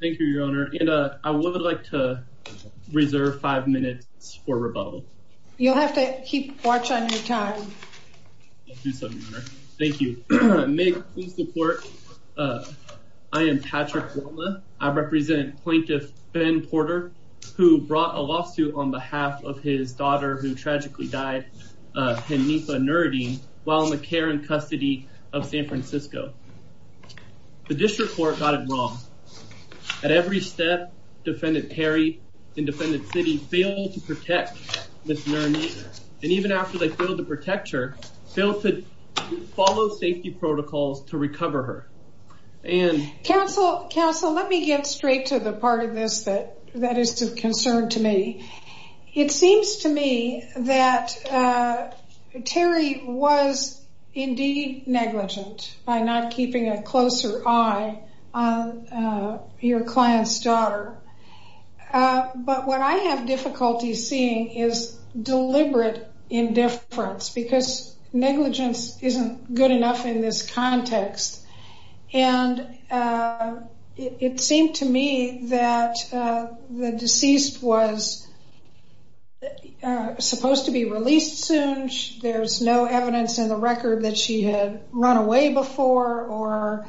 Thank you, Your Honor. And I would like to reserve five minutes for rebuttal. You'll have to keep watch on your time. Thank you. May I please report? I am Patrick Walma. I represent Plaintiff Ben Porter, who brought a lawsuit on behalf of his daughter, who tragically died, Hanifa Nuruddin, while in the care and custody of San Francisco. The district court got it wrong. At every step, Defendant Terry and Defendant City failed to protect Ms. Nuruddin. And even after they failed to protect her, failed to follow safety protocols to recover her. And counsel, counsel, let me get straight to the part of this that that is of concern to me. It seems to me that Terry was indeed negligent, by not keeping a closer eye on your client's daughter. But what I have difficulty seeing is deliberate indifference, because negligence isn't good enough in this context. And it seemed to me that the deceased was supposed to be released soon. There's no evidence in the record that she had run away before or,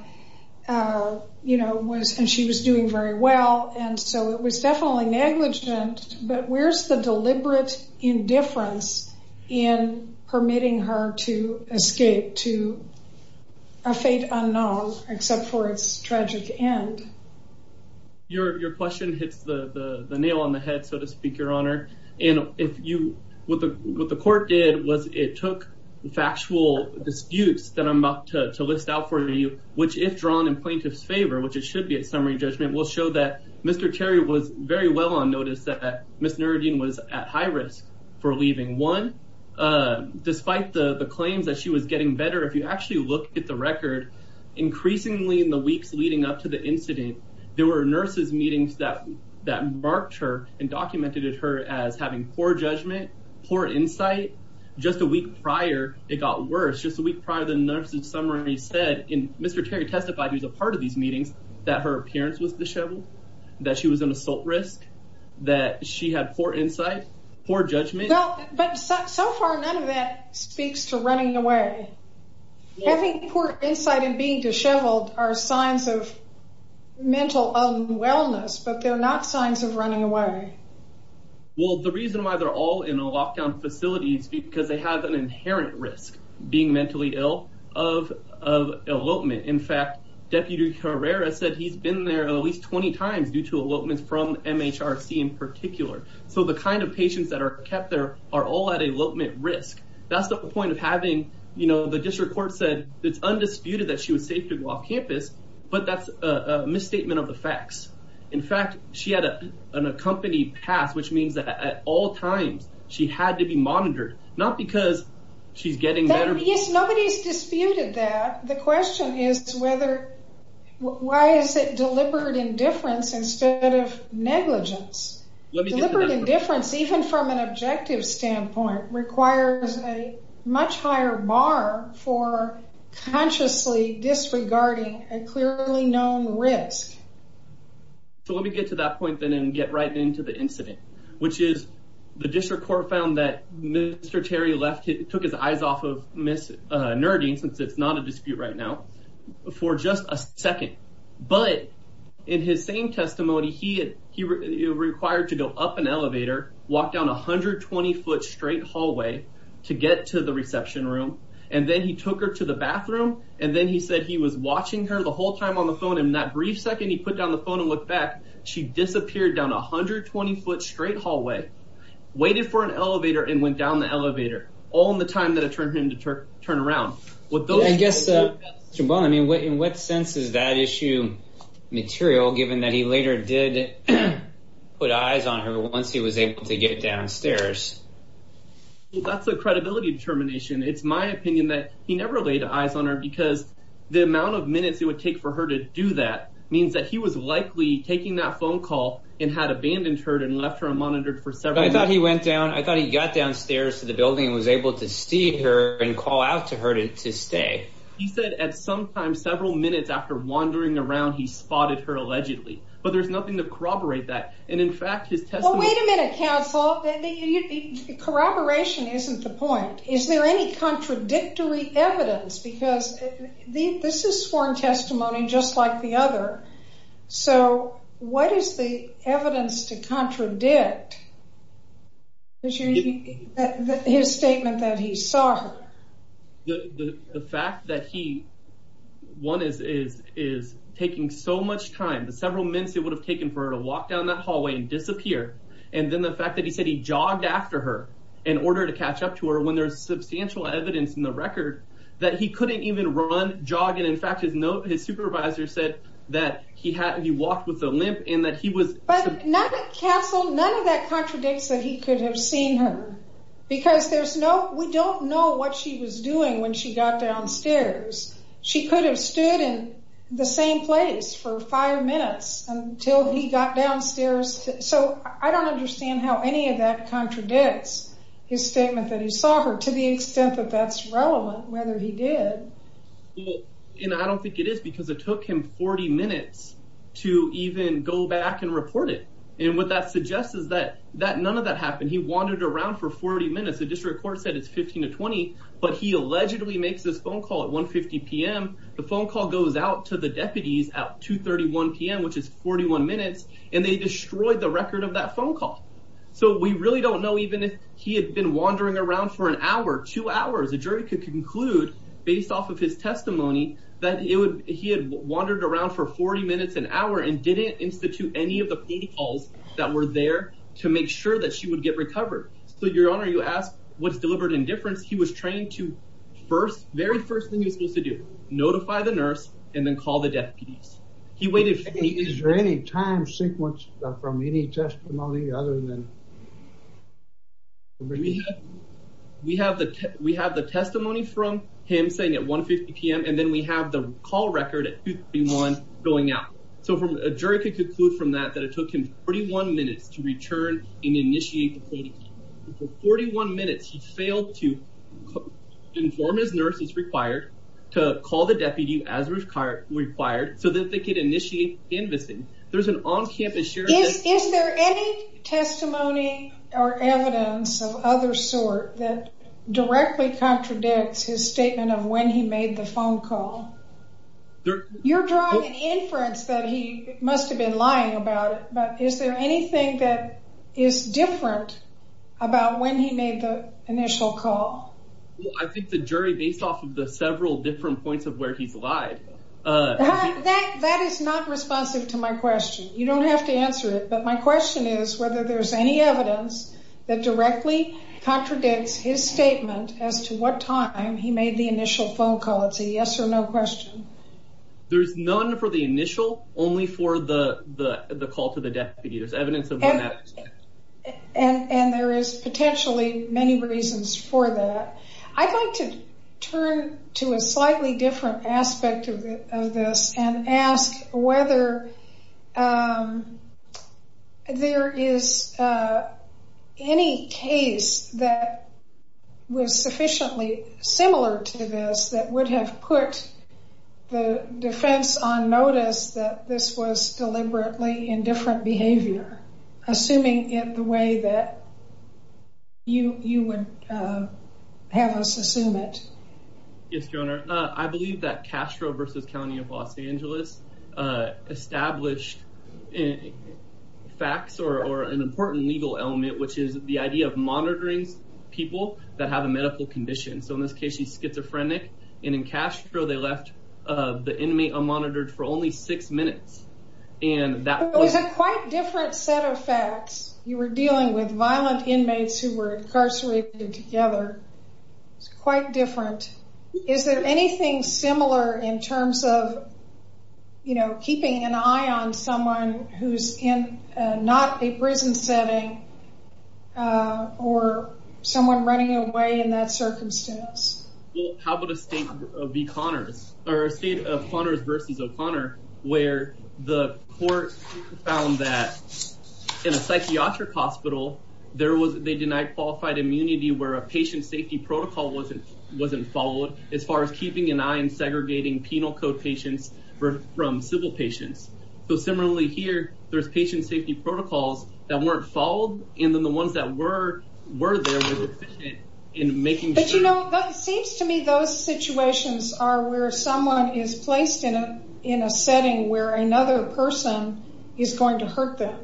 you know, was and she was doing very well. And so it was definitely negligent. But where's the deliberate indifference in permitting her to escape to a fate unknown, except for its tragic end? Your question hits the nail on the head, so to speak, Your Honor. And what the court did was it took factual disputes that I'm about to list out for you, which if drawn in plaintiff's favor, which it should be at summary judgment, will show that Ms. Nerudin was at high risk for leaving. One, despite the claims that she was getting better, if you actually look at the record, increasingly in the weeks leading up to the incident, there were nurses' meetings that marked her and documented her as having poor judgment, poor insight. Just a week prior, it got worse. Just a week prior, the nurses' summary said, and Mr. Terry testified, he was a part of these meetings, that her appearance was disheveled, that she was an assault risk, that she had poor insight, poor judgment. No, but so far, none of that speaks to running away. Having poor insight and being disheveled are signs of mental unwellness, but they're not signs of running away. Well, the reason why they're all in a lockdown facility is because they have an inherent risk being mentally ill of elopement. In fact, Deputy Herrera said he's been there at least 20 times due to elopements from MHRC in particular. So the kind of patients that are kept there are all at elopement risk. That's the point of having, you know, the district court said it's undisputed that she was safe to go off campus, but that's a misstatement of the facts. In fact, she had an accompanied pass, which means that at all times, she had to be monitored, not because she's getting better. Yes, nobody's disputed that. The question is whether, why is it deliberate indifference instead of negligence? Deliberate indifference, even from an objective standpoint, requires a much higher bar for consciously disregarding a clearly known risk. So let me get to that point then and get right into the incident, which is the district court found that Mr. Terry took his eyes off of Ms. Nerding, since it's not a dispute right now, for just a second. But in his same testimony, he required to go up an elevator, walk down a 120-foot straight hallway to get to the reception room, and then he took her to the bathroom, and then he said he was watching her the whole time on the phone, and that brief second he put down the phone and looked back, she disappeared down a 120-foot straight hallway, waited for an elevator, and went down the elevator, all in the time that it took him to turn around. I guess, Jevon, in what sense is that issue material, given that he later did put eyes on her once he was able to get downstairs? That's a credibility determination. It's my opinion that he never laid eyes on her, because the amount of minutes it would take for her to do that means that he was likely taking that phone call and had abandoned her and left her unmonitored for several minutes. I thought he went down, I thought he got downstairs to the building and was able to see her and call out to her to stay. He said at some time, several minutes after wandering around, he spotted her allegedly. But there's nothing to corroborate that. And in fact, his testimony- Well, wait a minute, counsel. Corroboration isn't the point. Is there any contradictory evidence? Because this is sworn testimony just like the other. So what is the evidence to contradict his statement that he saw her? The fact that he, one, is taking so much time, several minutes it would have taken for her to walk down that hallway and disappear. And then the fact that he said he jogged after her in order to catch up to her, when there's substantial evidence in the record that he couldn't even run, jog, and in fact, his supervisor said that he walked with a limp and that he was- But not, counsel, none of that contradicts that he could have seen her. Because there's no, we don't know what she was doing when she got downstairs. She could have stood in the same place for five minutes until he got downstairs. So I don't understand how any of that contradicts his statement that he saw her, to the extent that that's relevant, whether he did. And I don't think it is because it took him 40 minutes to even go back and report it. And what that suggests is that none of that happened. He wandered around for 40 minutes. The district court said it's 15 to 20, but he allegedly makes this phone call at 1.50 p.m. The phone call goes out to the deputies at 2.31 p.m., which is 41 minutes, and they destroyed the record of that wandering around for an hour, two hours. The jury could conclude, based off of his testimony, that he had wandered around for 40 minutes, an hour, and didn't institute any of the calls that were there to make sure that she would get recovered. So, your honor, you ask what's delivered in difference. He was trained to first, very first thing he was supposed to do, notify the nurse and then call the deputies. He waited- Is there any time sequence from any testimony other than- We have the testimony from him saying at 1.50 p.m., and then we have the call record at 2.31 going out. So, a jury could conclude from that that it took him 41 minutes to return and initiate the call. For 41 minutes, he failed to inform his nurses required to call the deputy as required so that they could initiate canvassing. There's an on-campus sharing- Is there any testimony or evidence of other sort that directly contradicts his statement of when he made the phone call? You're drawing an inference that he must have been lying about it, but is there anything that is different about when he made the initial call? Well, I think the jury, based off of the several different points of where he's lied- That is not responsive to my question. You don't have to answer it, but my question is whether there's any evidence that directly contradicts his statement as to what time he made the initial phone call. It's a yes or no question. There's none for the initial, only for the call to the deputy. There's potentially many reasons for that. I'd like to turn to a slightly different aspect of this and ask whether there is any case that was sufficiently similar to this that would have put the defense on different behavior, assuming in the way that you would have us assume it. Yes, Your Honor. I believe that Castro v. County of Los Angeles established facts or an important legal element, which is the idea of monitoring people that have a medical condition. In this case, she's schizophrenic. In Castro, they left the inmate unmonitored for only six minutes. It's a quite different set of facts. You were dealing with violent inmates who were incarcerated together. It's quite different. Is there anything similar in terms of keeping an eye on someone who's in not a prison setting or someone running away in that circumstance? How about a state of Connors v. O'Connor, where the court found that in a psychiatric hospital, they denied qualified immunity where a patient safety protocol wasn't followed as far as keeping an eye on segregating penal code patients from civil patients. Similarly here, there's patient safety protocols that weren't followed, and then the ones that were there were deficient in making sure. It seems to me those situations are where someone is placed in a setting where another person is going to hurt them.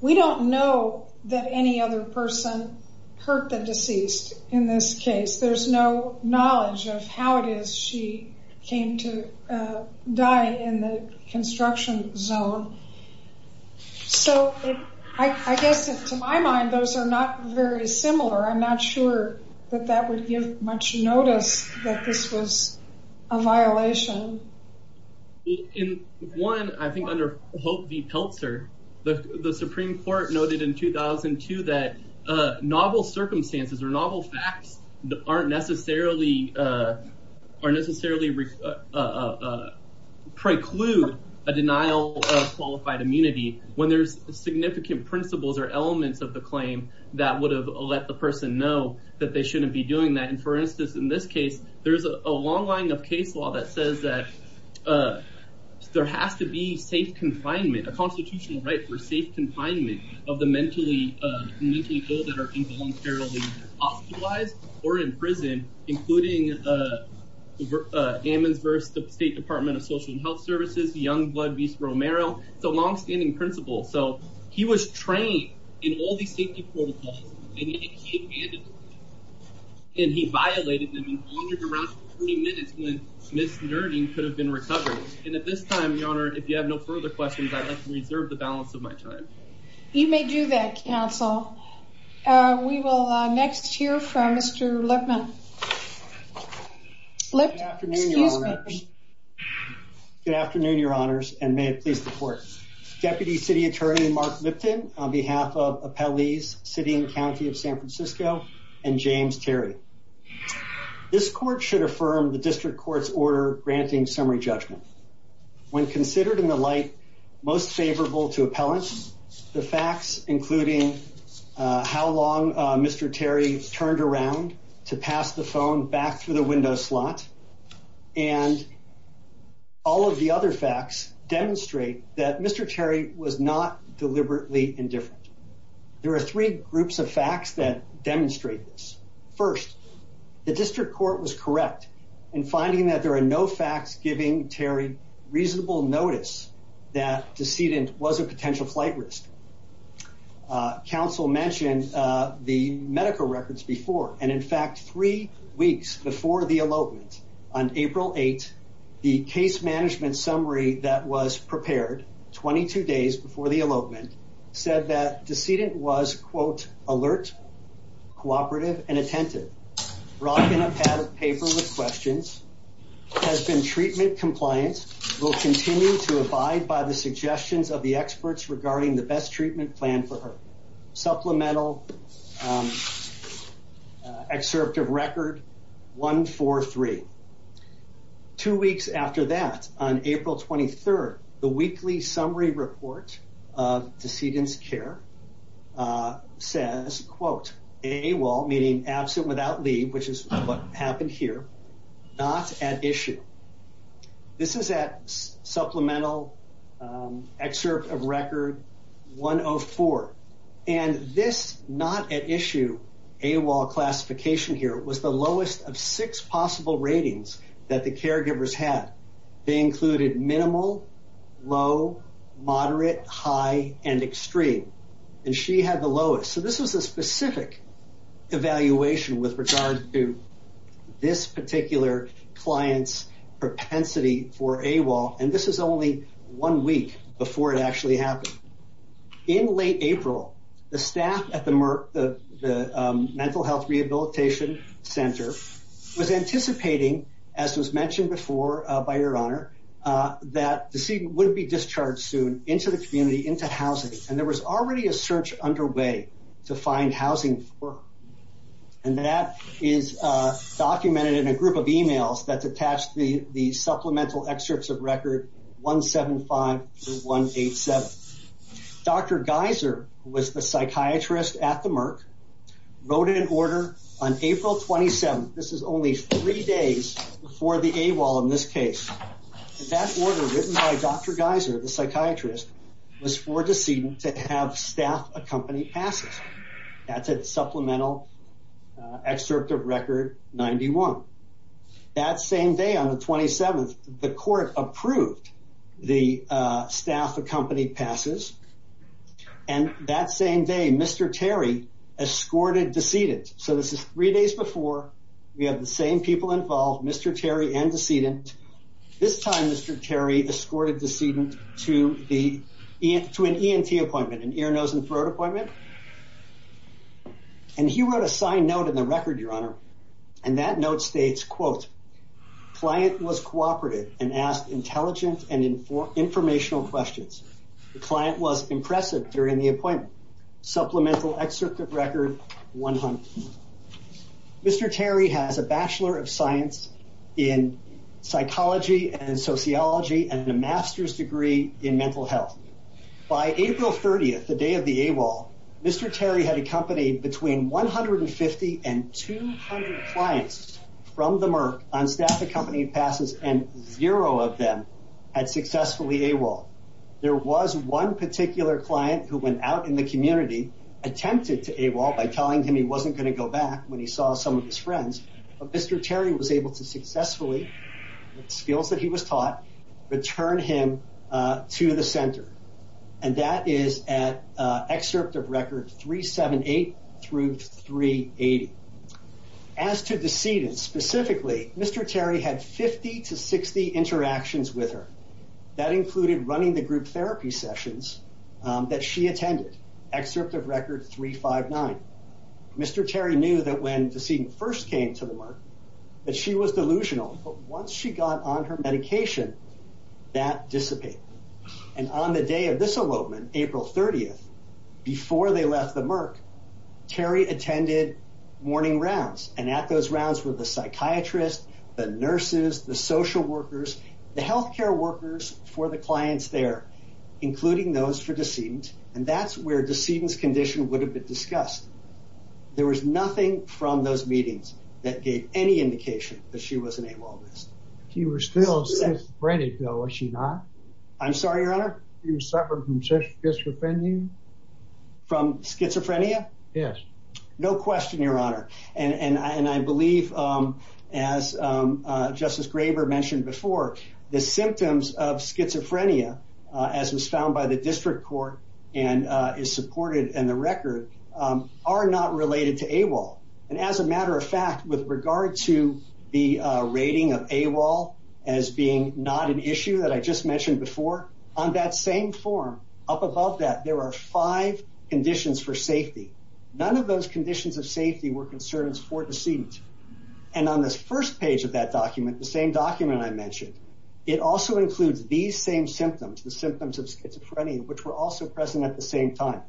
We don't know that any other person hurt the deceased in this case. There's no knowledge of how it is she came to die in the construction zone. I guess to my mind, those are not very similar. I'm not sure that that would give much notice that this was a violation. In one, I think under Hope v. Peltzer, the Supreme Court noted in 2002 that novel circumstances or novel facts aren't necessarily preclude a denial of immunity when there's significant principles or elements of the claim that would have let the person know that they shouldn't be doing that. For instance, in this case, there's a long line of case law that says that there has to be a constitutional right for safe confinement of the mentally ill that are involuntarily hospitalized or in prison, including Ammons v. State Department of Social and Health Services, Youngblood v. Romero. It's a long-standing principle. So he was trained in all these safety protocols and yet he abandoned them. And he violated them in under around 30 minutes when Ms. Nerding could have been recovered. And at this time, Your Honor, if you have no further questions, I'd like to reserve the balance of my time. You may do that, counsel. We will next hear from Mr. Lippman. Good afternoon, Your Honors. Good afternoon, Your Honors, and may it please the Court. Deputy City Attorney Mark Lipton on behalf of appellees sitting in the County of San Francisco and James Terry. This Court should affirm the District Court's order granting summary judgment. When considered in the light most favorable to appellants, the facts including how long Mr. Terry turned around to pass the phone back through the window slot, and all of the other facts demonstrate that Mr. Terry was not deliberately indifferent. There are three groups of facts that demonstrate this. First, the District Court was correct in finding that there are no facts giving Terry reasonable notice that the decedent was a potential flight risk. Council mentioned the medical records before, and in fact, three weeks before the elopement, on April 8th, the case management summary that was prepared 22 days before the elopement said that the decedent was, quote, alert, cooperative, and attentive. Rocking a pad of paper with questions, has been treatment compliant, will continue to abide by the treatment plan for her. Supplemental excerpt of record 143. Two weeks after that, on April 23rd, the weekly summary report of decedent's care says, quote, AWOL, meaning absent without leave, which is what happened here, not at issue. This is at supplemental excerpt of record 104, and this not at issue AWOL classification here was the lowest of six possible ratings that the caregivers had. They included minimal, low, moderate, high, and extreme, and she had the lowest. So this was a specific evaluation with regard to this particular client's propensity for AWOL, and this is only one week before it actually happened. In late April, the staff at the mental health rehabilitation center was anticipating, as was mentioned before by your honor, that the decedent would be discharged soon into the community, into housing, and there was already a search underway to find housing for her, and that is documented in a group of emails that's attached to the supplemental excerpts of record 175 to 187. Dr. Geiser, who was the psychiatrist at the Merck, wrote an order on April 27th, this is only three days before the AWOL in this case, that order written by Dr. Geiser, the psychiatrist, was for decedent to have staff accompanied passes. That's at supplemental excerpt of record 91. That same day on the 27th, the court approved the staff accompanied passes, and that same day Mr. Terry escorted decedent. So this is three days before, we have the same people involved, Mr. Terry and decedent. This time Mr. Terry escorted decedent to an ENT appointment, an ear, nose, and throat appointment, and he wrote a signed note in the record, your honor, and that note states, quote, client was cooperative and asked intelligent and informational questions. The client was Mr. Terry has a bachelor of science in psychology and sociology and a master's degree in mental health. By April 30th, the day of the AWOL, Mr. Terry had accompanied between 150 and 200 clients from the Merck on staff accompanied passes, and zero of them had successfully AWOL. There was one particular client who went out in the community, attempted to AWOL by telling him he wasn't going to go back when he saw some of his friends, but Mr. Terry was able to successfully, with skills that he was taught, return him to the center, and that is at excerpt of record 378 through 380. As to decedent specifically, Mr. Terry had 50 to 60 interactions with her. That included running the group therapy sessions that she attended, excerpt of record 359. Mr. Terry knew that when decedent first came to the Merck that she was delusional, but once she got on her medication, that dissipated, and on the day of this AWOL, April 30th, before they left the Merck, Terry attended morning rounds, and at those rounds were the psychiatrist, the nurses, the social workers, the health care workers for the clients there, including those for decedent, and that's where decedent's condition would have been discussed. There was nothing from those meetings that gave any indication that she was an AWOL. She was still schizophrenic, though, was she not? I'm sorry, your honor? She was suffering from schizophrenia? From schizophrenia? Yes. No question, your honor, and I believe, as Justice Graber mentioned before, the symptoms of and is supported in the record are not related to AWOL, and as a matter of fact, with regard to the rating of AWOL as being not an issue that I just mentioned before, on that same form, up above that, there are five conditions for safety. None of those conditions of safety were concerns for decedent, and on this first page of that document, the same document I mentioned, it also includes these same symptoms, the symptoms of and at the same time,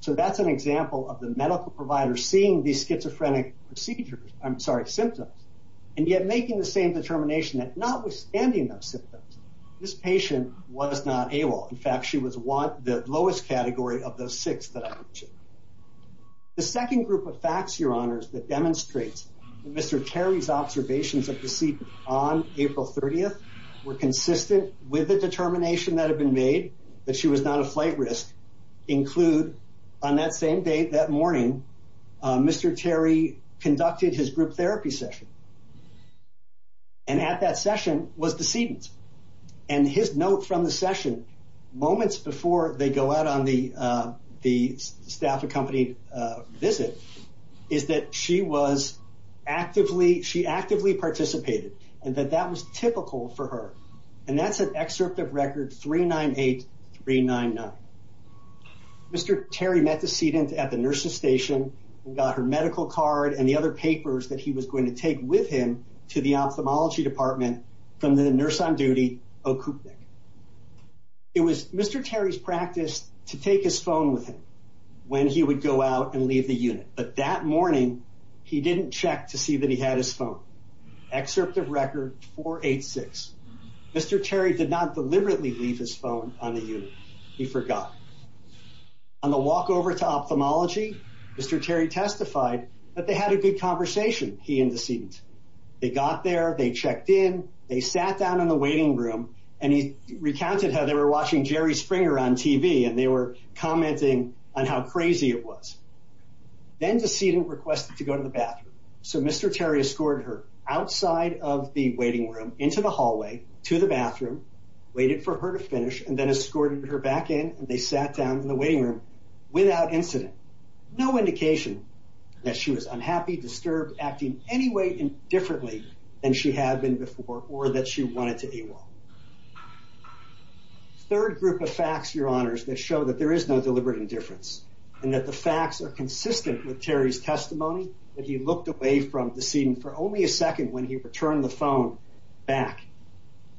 so that's an example of the medical provider seeing these schizophrenic procedures, I'm sorry, symptoms, and yet making the same determination that notwithstanding those symptoms, this patient was not AWOL. In fact, she was the lowest category of those six that I mentioned. The second group of facts, your honors, that demonstrates that Mr. Terry's observations of decedent on April 30th were consistent with the determination that had been made that she was not a flight risk include, on that same day, that morning, Mr. Terry conducted his group therapy session, and at that session was decedent, and his note from the session, moments before they go out on the staff-accompanied visit, is that she was actively, she actively participated, and that that was typical for her, and that's an excerpt of record 398-399. Mr. Terry met decedent at the nurse's station and got her medical card and the other papers that he was going to take with him to the ophthalmology department from the nurse on duty, O. Kupnik. It was Mr. Terry's practice to take his phone with him when he would go out and leave the unit, but that morning, he didn't check to see that he had his phone. Excerpt of record 486. Mr. Terry did not deliberately leave his phone on the unit. He forgot. On the walk over to ophthalmology, Mr. Terry testified that they had a good conversation, he and decedent. They got there, they checked in, they sat down in the waiting room, and he recounted how they were watching Jerry Springer on TV, and they were commenting on how crazy it was. Then decedent requested to go to the bathroom, so Mr. Terry escorted her outside of the waiting room into the hallway to the bathroom, waited for her to finish, and then escorted her back in, and they sat down in the waiting room without incident. No indication that she was unhappy, disturbed, acting any way indifferently than she had been before or that she wanted to AWOL. Third group of facts, your honors, that show that there is no deliberate indifference and that the facts are consistent with Terry's testimony, that he looked away from decedent for only a second when he returned the phone back,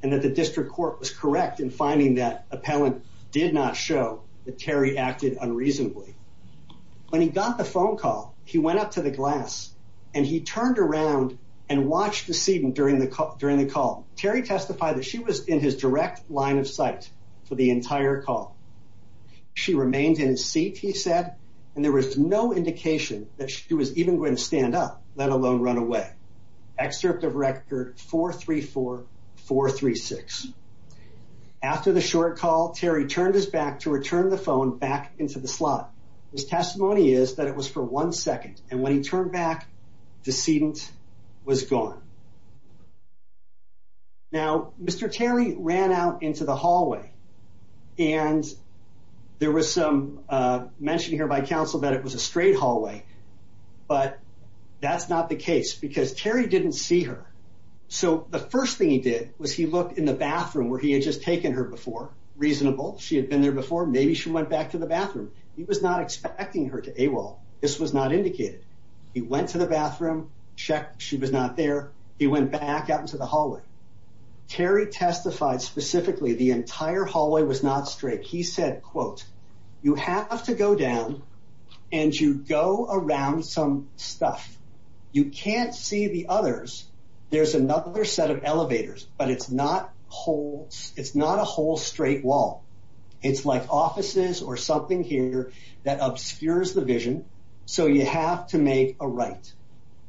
and that the district court was correct in finding that appellant did not show that Terry acted unreasonably. When he got the phone call, he went up to the glass, and he turned around and watched decedent during the call. Terry testified that she was in his direct line of sight for the entire call. She remained in his seat, he said, and there was no indication that she was even going to stand up, let alone run away. Excerpt of record 434-436. After the short call, Terry turned his back to return the phone back into the slot. His testimony is that it was for one second, and when he turned back, decedent was gone. Now, Mr. Terry ran out into the hallway, and there was some mention here by counsel that it was a straight hallway, but that's not the case, because Terry didn't see her. So the first thing he did was he looked in the bathroom where he had just taken her before, reasonable, she had been there before, maybe she went back to the bathroom. He was not expecting her to AWOL, this was not indicated. He went to the bathroom, checked she was not there. He went back out into the hallway. Terry testified specifically the entire hallway was not straight. He said, quote, you have to go down and you go around some stuff. You can't see the others. There's another set of elevators, but it's not a whole straight wall. It's like offices or something here that obscures the vision. So you have to make a right.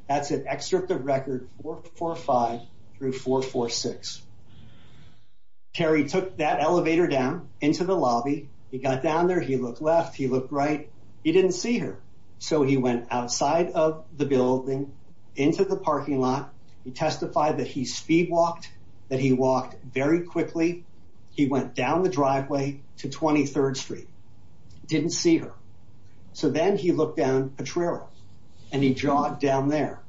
That's an excerpt of record 445 through 446. Terry took that elevator down into the lobby. He got down there. He looked left. He looked right. He didn't see her. So he went outside of the building into the parking lot. He testified that he speed walked, that he walked very quickly. He went down the driveway to 23rd Street. Didn't see her. So then he looked down Potrero and he jogged down there.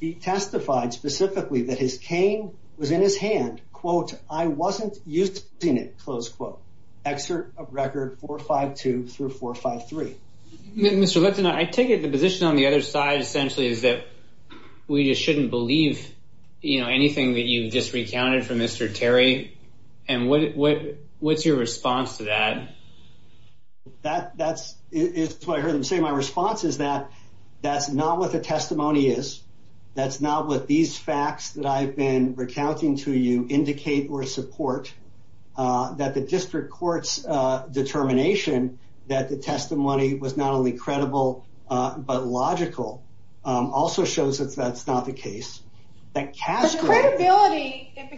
He testified specifically that his cane was in his hand. Quote, I wasn't using it, close quote. Excerpt of record 452 through 453. Mr. Lutton, I take it the position on the other side essentially is that we just shouldn't believe anything that you've just recounted from Mr. Terry. And what's your response to that? That's what I heard him say. My response is that that's not what the testimony is. That's not what these facts that I've been recounting to you indicate or support. That the district court's determination that the testimony was not only credible but logical also shows that that's not the case. The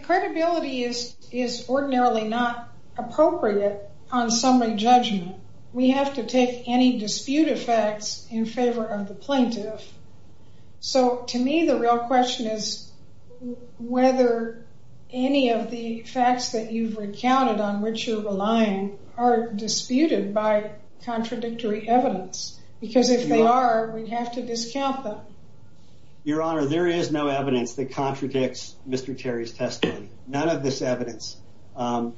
credibility is ordinarily not appropriate on summary judgment. We have to take any dispute effects in favor of the plaintiff. So to me, the real question is whether any of the facts that you've recounted on which you're relying are disputed by contradictory evidence. Because if they are, we'd have to discount them. Your Honor, there is no evidence that contradicts Mr. Terry's testimony. None of this evidence. And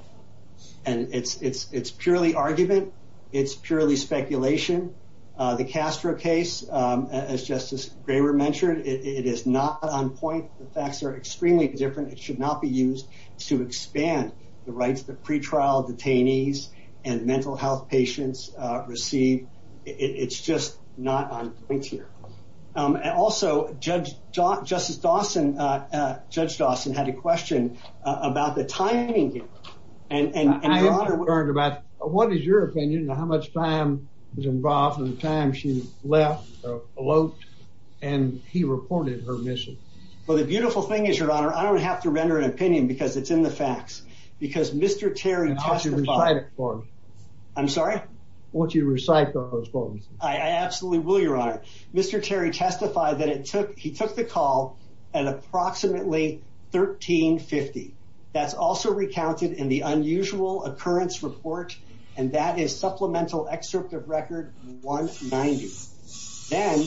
it's purely argument. It's purely speculation. The Castro case, as Justice Graber mentioned, it is not on point. The facts are extremely different. It should not be used to expand the rights that pretrial detainees and mental health patients receive. It's just not on point here. Also, Judge Dawson had a question about the timing. I am concerned about what is your opinion on how much time was involved in the time she left or eloped and he reported her missing. Well, the beautiful thing is, Your Honor, I don't have to render an opinion because it's in the facts. Because Mr. Terry testified. I want you to recite it for me. I'm sorry? I want you to recite those for me. I absolutely will, Your Honor. Mr. Terry testified that he took the call at approximately 1350. That's also recounted in the unusual occurrence report. And that is supplemental excerpt of record 190. Then,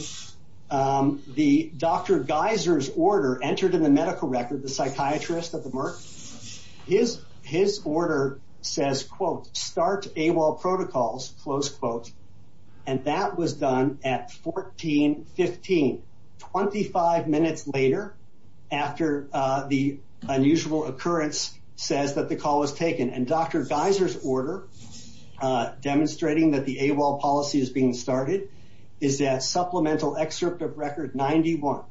the Dr. Geiser's order entered in the medical record, the psychiatrist at the Merck. His order says, quote, start AWOL protocols, close quote. And that was done at 1415, 25 minutes later, after the unusual occurrence says that the call was taken. And Dr. Geiser's order, demonstrating that the AWOL policy is being started, is that supplemental excerpt of record 91.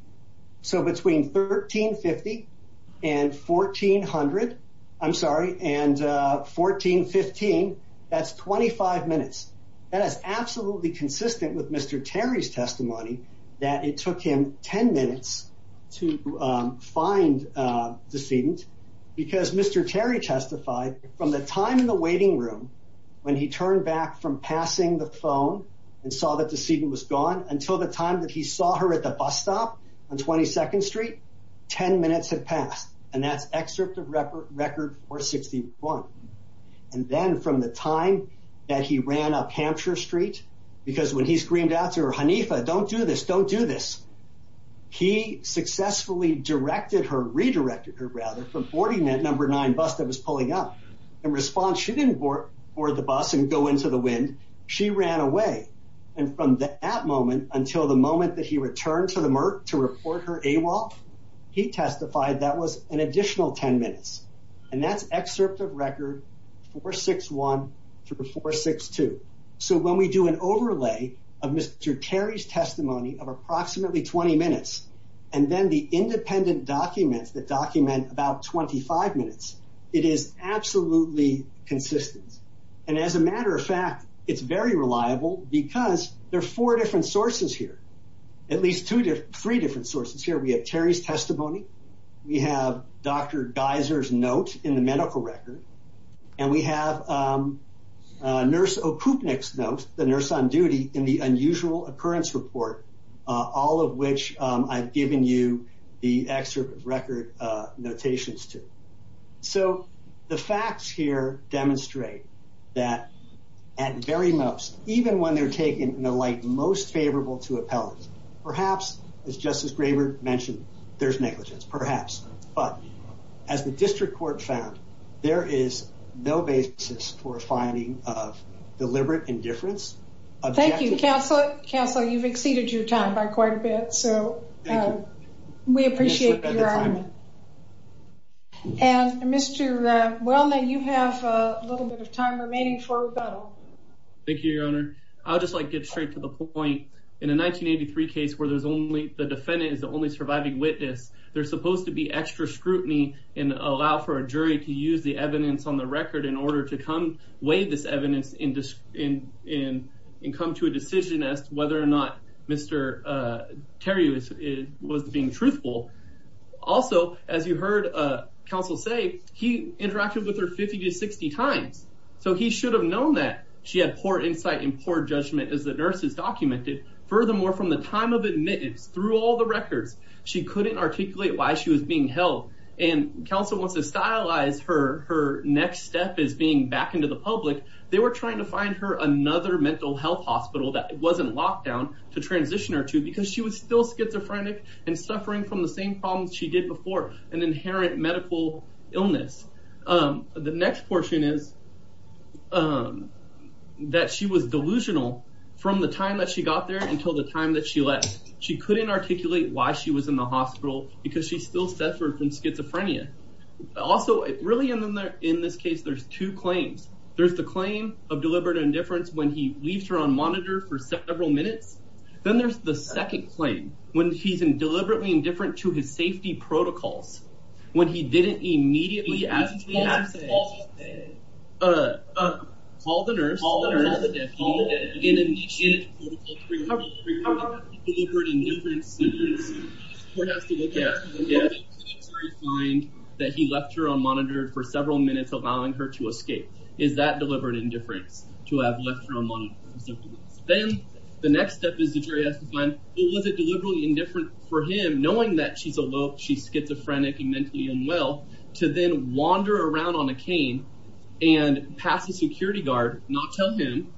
So between 1350 and 1400, I'm sorry, and 1415, that's 25 minutes. That is absolutely consistent with Mr. Terry's testimony that it took him 10 minutes to find the decedent. Because Mr. Terry testified, from the time in the waiting room, when he turned back from passing the phone and saw that the decedent was gone, until the time that he saw her at the bus stop on 22nd Street, 10 minutes had passed. And that's excerpt of record 461. And then from the time that he ran up Hampshire Street, because when he screamed out to her, Hanifa, don't do this, don't do this. He successfully directed her, redirected her rather, from boarding that number nine bus that was pulling up. In response, she didn't board the bus and go into the wind. She ran away. And from that moment until the moment that he returned to the Merck to report her AWOL, he testified that was an additional 10 minutes. And that's excerpt of record 461 through 462. So when we do an overlay of Mr. Terry's testimony of approximately 20 minutes, and then the independent documents that document about 25 minutes, it is absolutely consistent. And as a matter of fact, it's very reliable because there are four different sources here. At least three different sources here. We have Terry's testimony. We have Dr. Geiser's note in the medical record. And we have Nurse Okupnik's note, the nurse on duty, in the unusual occurrence report, all of which I've given you the excerpt of record notations to. So the facts here demonstrate that at very most, even when they're taken in the light most favorable to appellate, perhaps as Justice Graber mentioned, there's negligence, perhaps. But as the district court found, there is no basis for a finding of deliberate indifference. Thank you, Counselor. You've exceeded your time by quite a bit. So we appreciate your time. And Mr. Welner, you have a little bit of time remaining for rebuttal. Thank you, Your Honor. I'll just like get straight to the point. In a 1983 case where the defendant is the only surviving witness, there's supposed to be extra scrutiny and allow for a jury to use the evidence on the record in order to come weigh this evidence and come to a decision as to whether or not Mr. Terry was being truthful. Also, as you heard Counsel say, he interacted with her 50 to 60 times. So he should have known that she had poor insight and poor judgment as the nurses documented. Furthermore, from the time of admittance through all the records, she couldn't articulate why she was being held. And Counsel wants to stylize her next step as being back into the public. They were trying to find her another mental health hospital that wasn't locked down to transition her to because she was still schizophrenic and suffering from the same problems she did before, an inherent medical illness. The next portion is that she was delusional from the time that she got there until the time that she left. She couldn't articulate why she was in the hospital because she still suffered from schizophrenia. Also, really in this case, there's two claims. There's the claim of deliberate indifference when he leaves her on monitor for several minutes. Then there's the second claim when he's in deliberately indifferent to his safety protocols, when he didn't immediately ask her to call the nurse and initiate a protocol to bring her home. How about deliberate indifference where he has to look at her and find that he left her on monitor for several minutes, allowing her to escape. Is that deliberate indifference to have left her on monitor? Then the next step is the jury has to find, well, was it deliberately indifferent for him knowing that she's schizophrenic and mentally unwell to then wander around on a cane and pass a security guard, not tell him,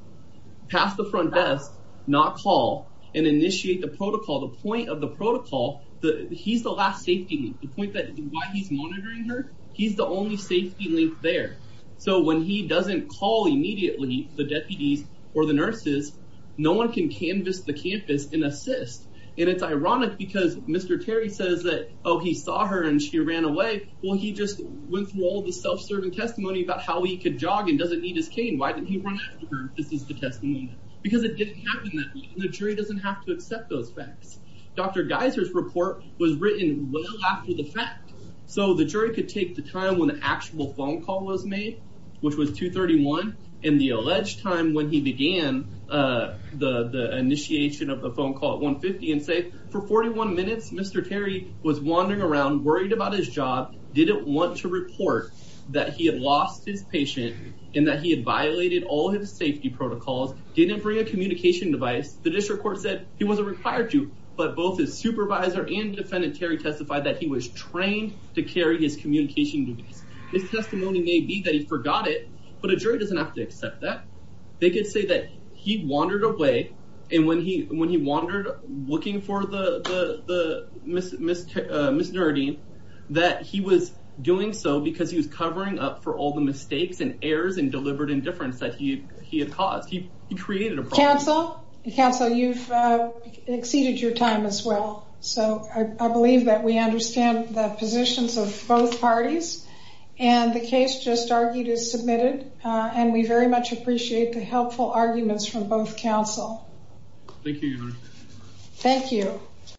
pass the front desk, not call and initiate the protocol. The point of the protocol, he's the last safety link. The point that why he's monitoring her, he's the only safety link there. So when he doesn't call immediately the deputies or the nurses, no one can canvass the campus and assist. And it's ironic because Mr. Terry says that, oh, he saw her and she ran away. Well, he just went through all the self-serving testimony about how he could jog and doesn't need his cane. Why didn't he run after her? This is the testimony. Because it didn't happen that way. The jury doesn't have to accept those facts. Dr. Geiser's report was written well after the fact. So the jury could take the time when the actual phone call was made, which was 2.31 in the alleged time when he began the initiation of the phone call at 1.50 and say, for 41 minutes, Mr. Terry was wandering around, worried about his job, didn't want to report that he had lost his patient and that he had violated all his safety protocols, didn't bring a communication device. The district court said he wasn't required to, but both his supervisor and defendant Terry testified that he was trained to carry his communication device. His testimony may be that he forgot it, but a jury doesn't have to accept that. They could say that he wandered away and when he wandered looking for Ms. Nerdeen, that he was doing so because he was covering up for all the mistakes and errors and deliberate indifference that he had caused. He created a problem. Counsel, you've exceeded your time as well. So I believe that we understand the positions of both parties and the case just argued is submitted and we very much appreciate the helpful arguments from both counsel. Thank you, Your Honor. Thank you.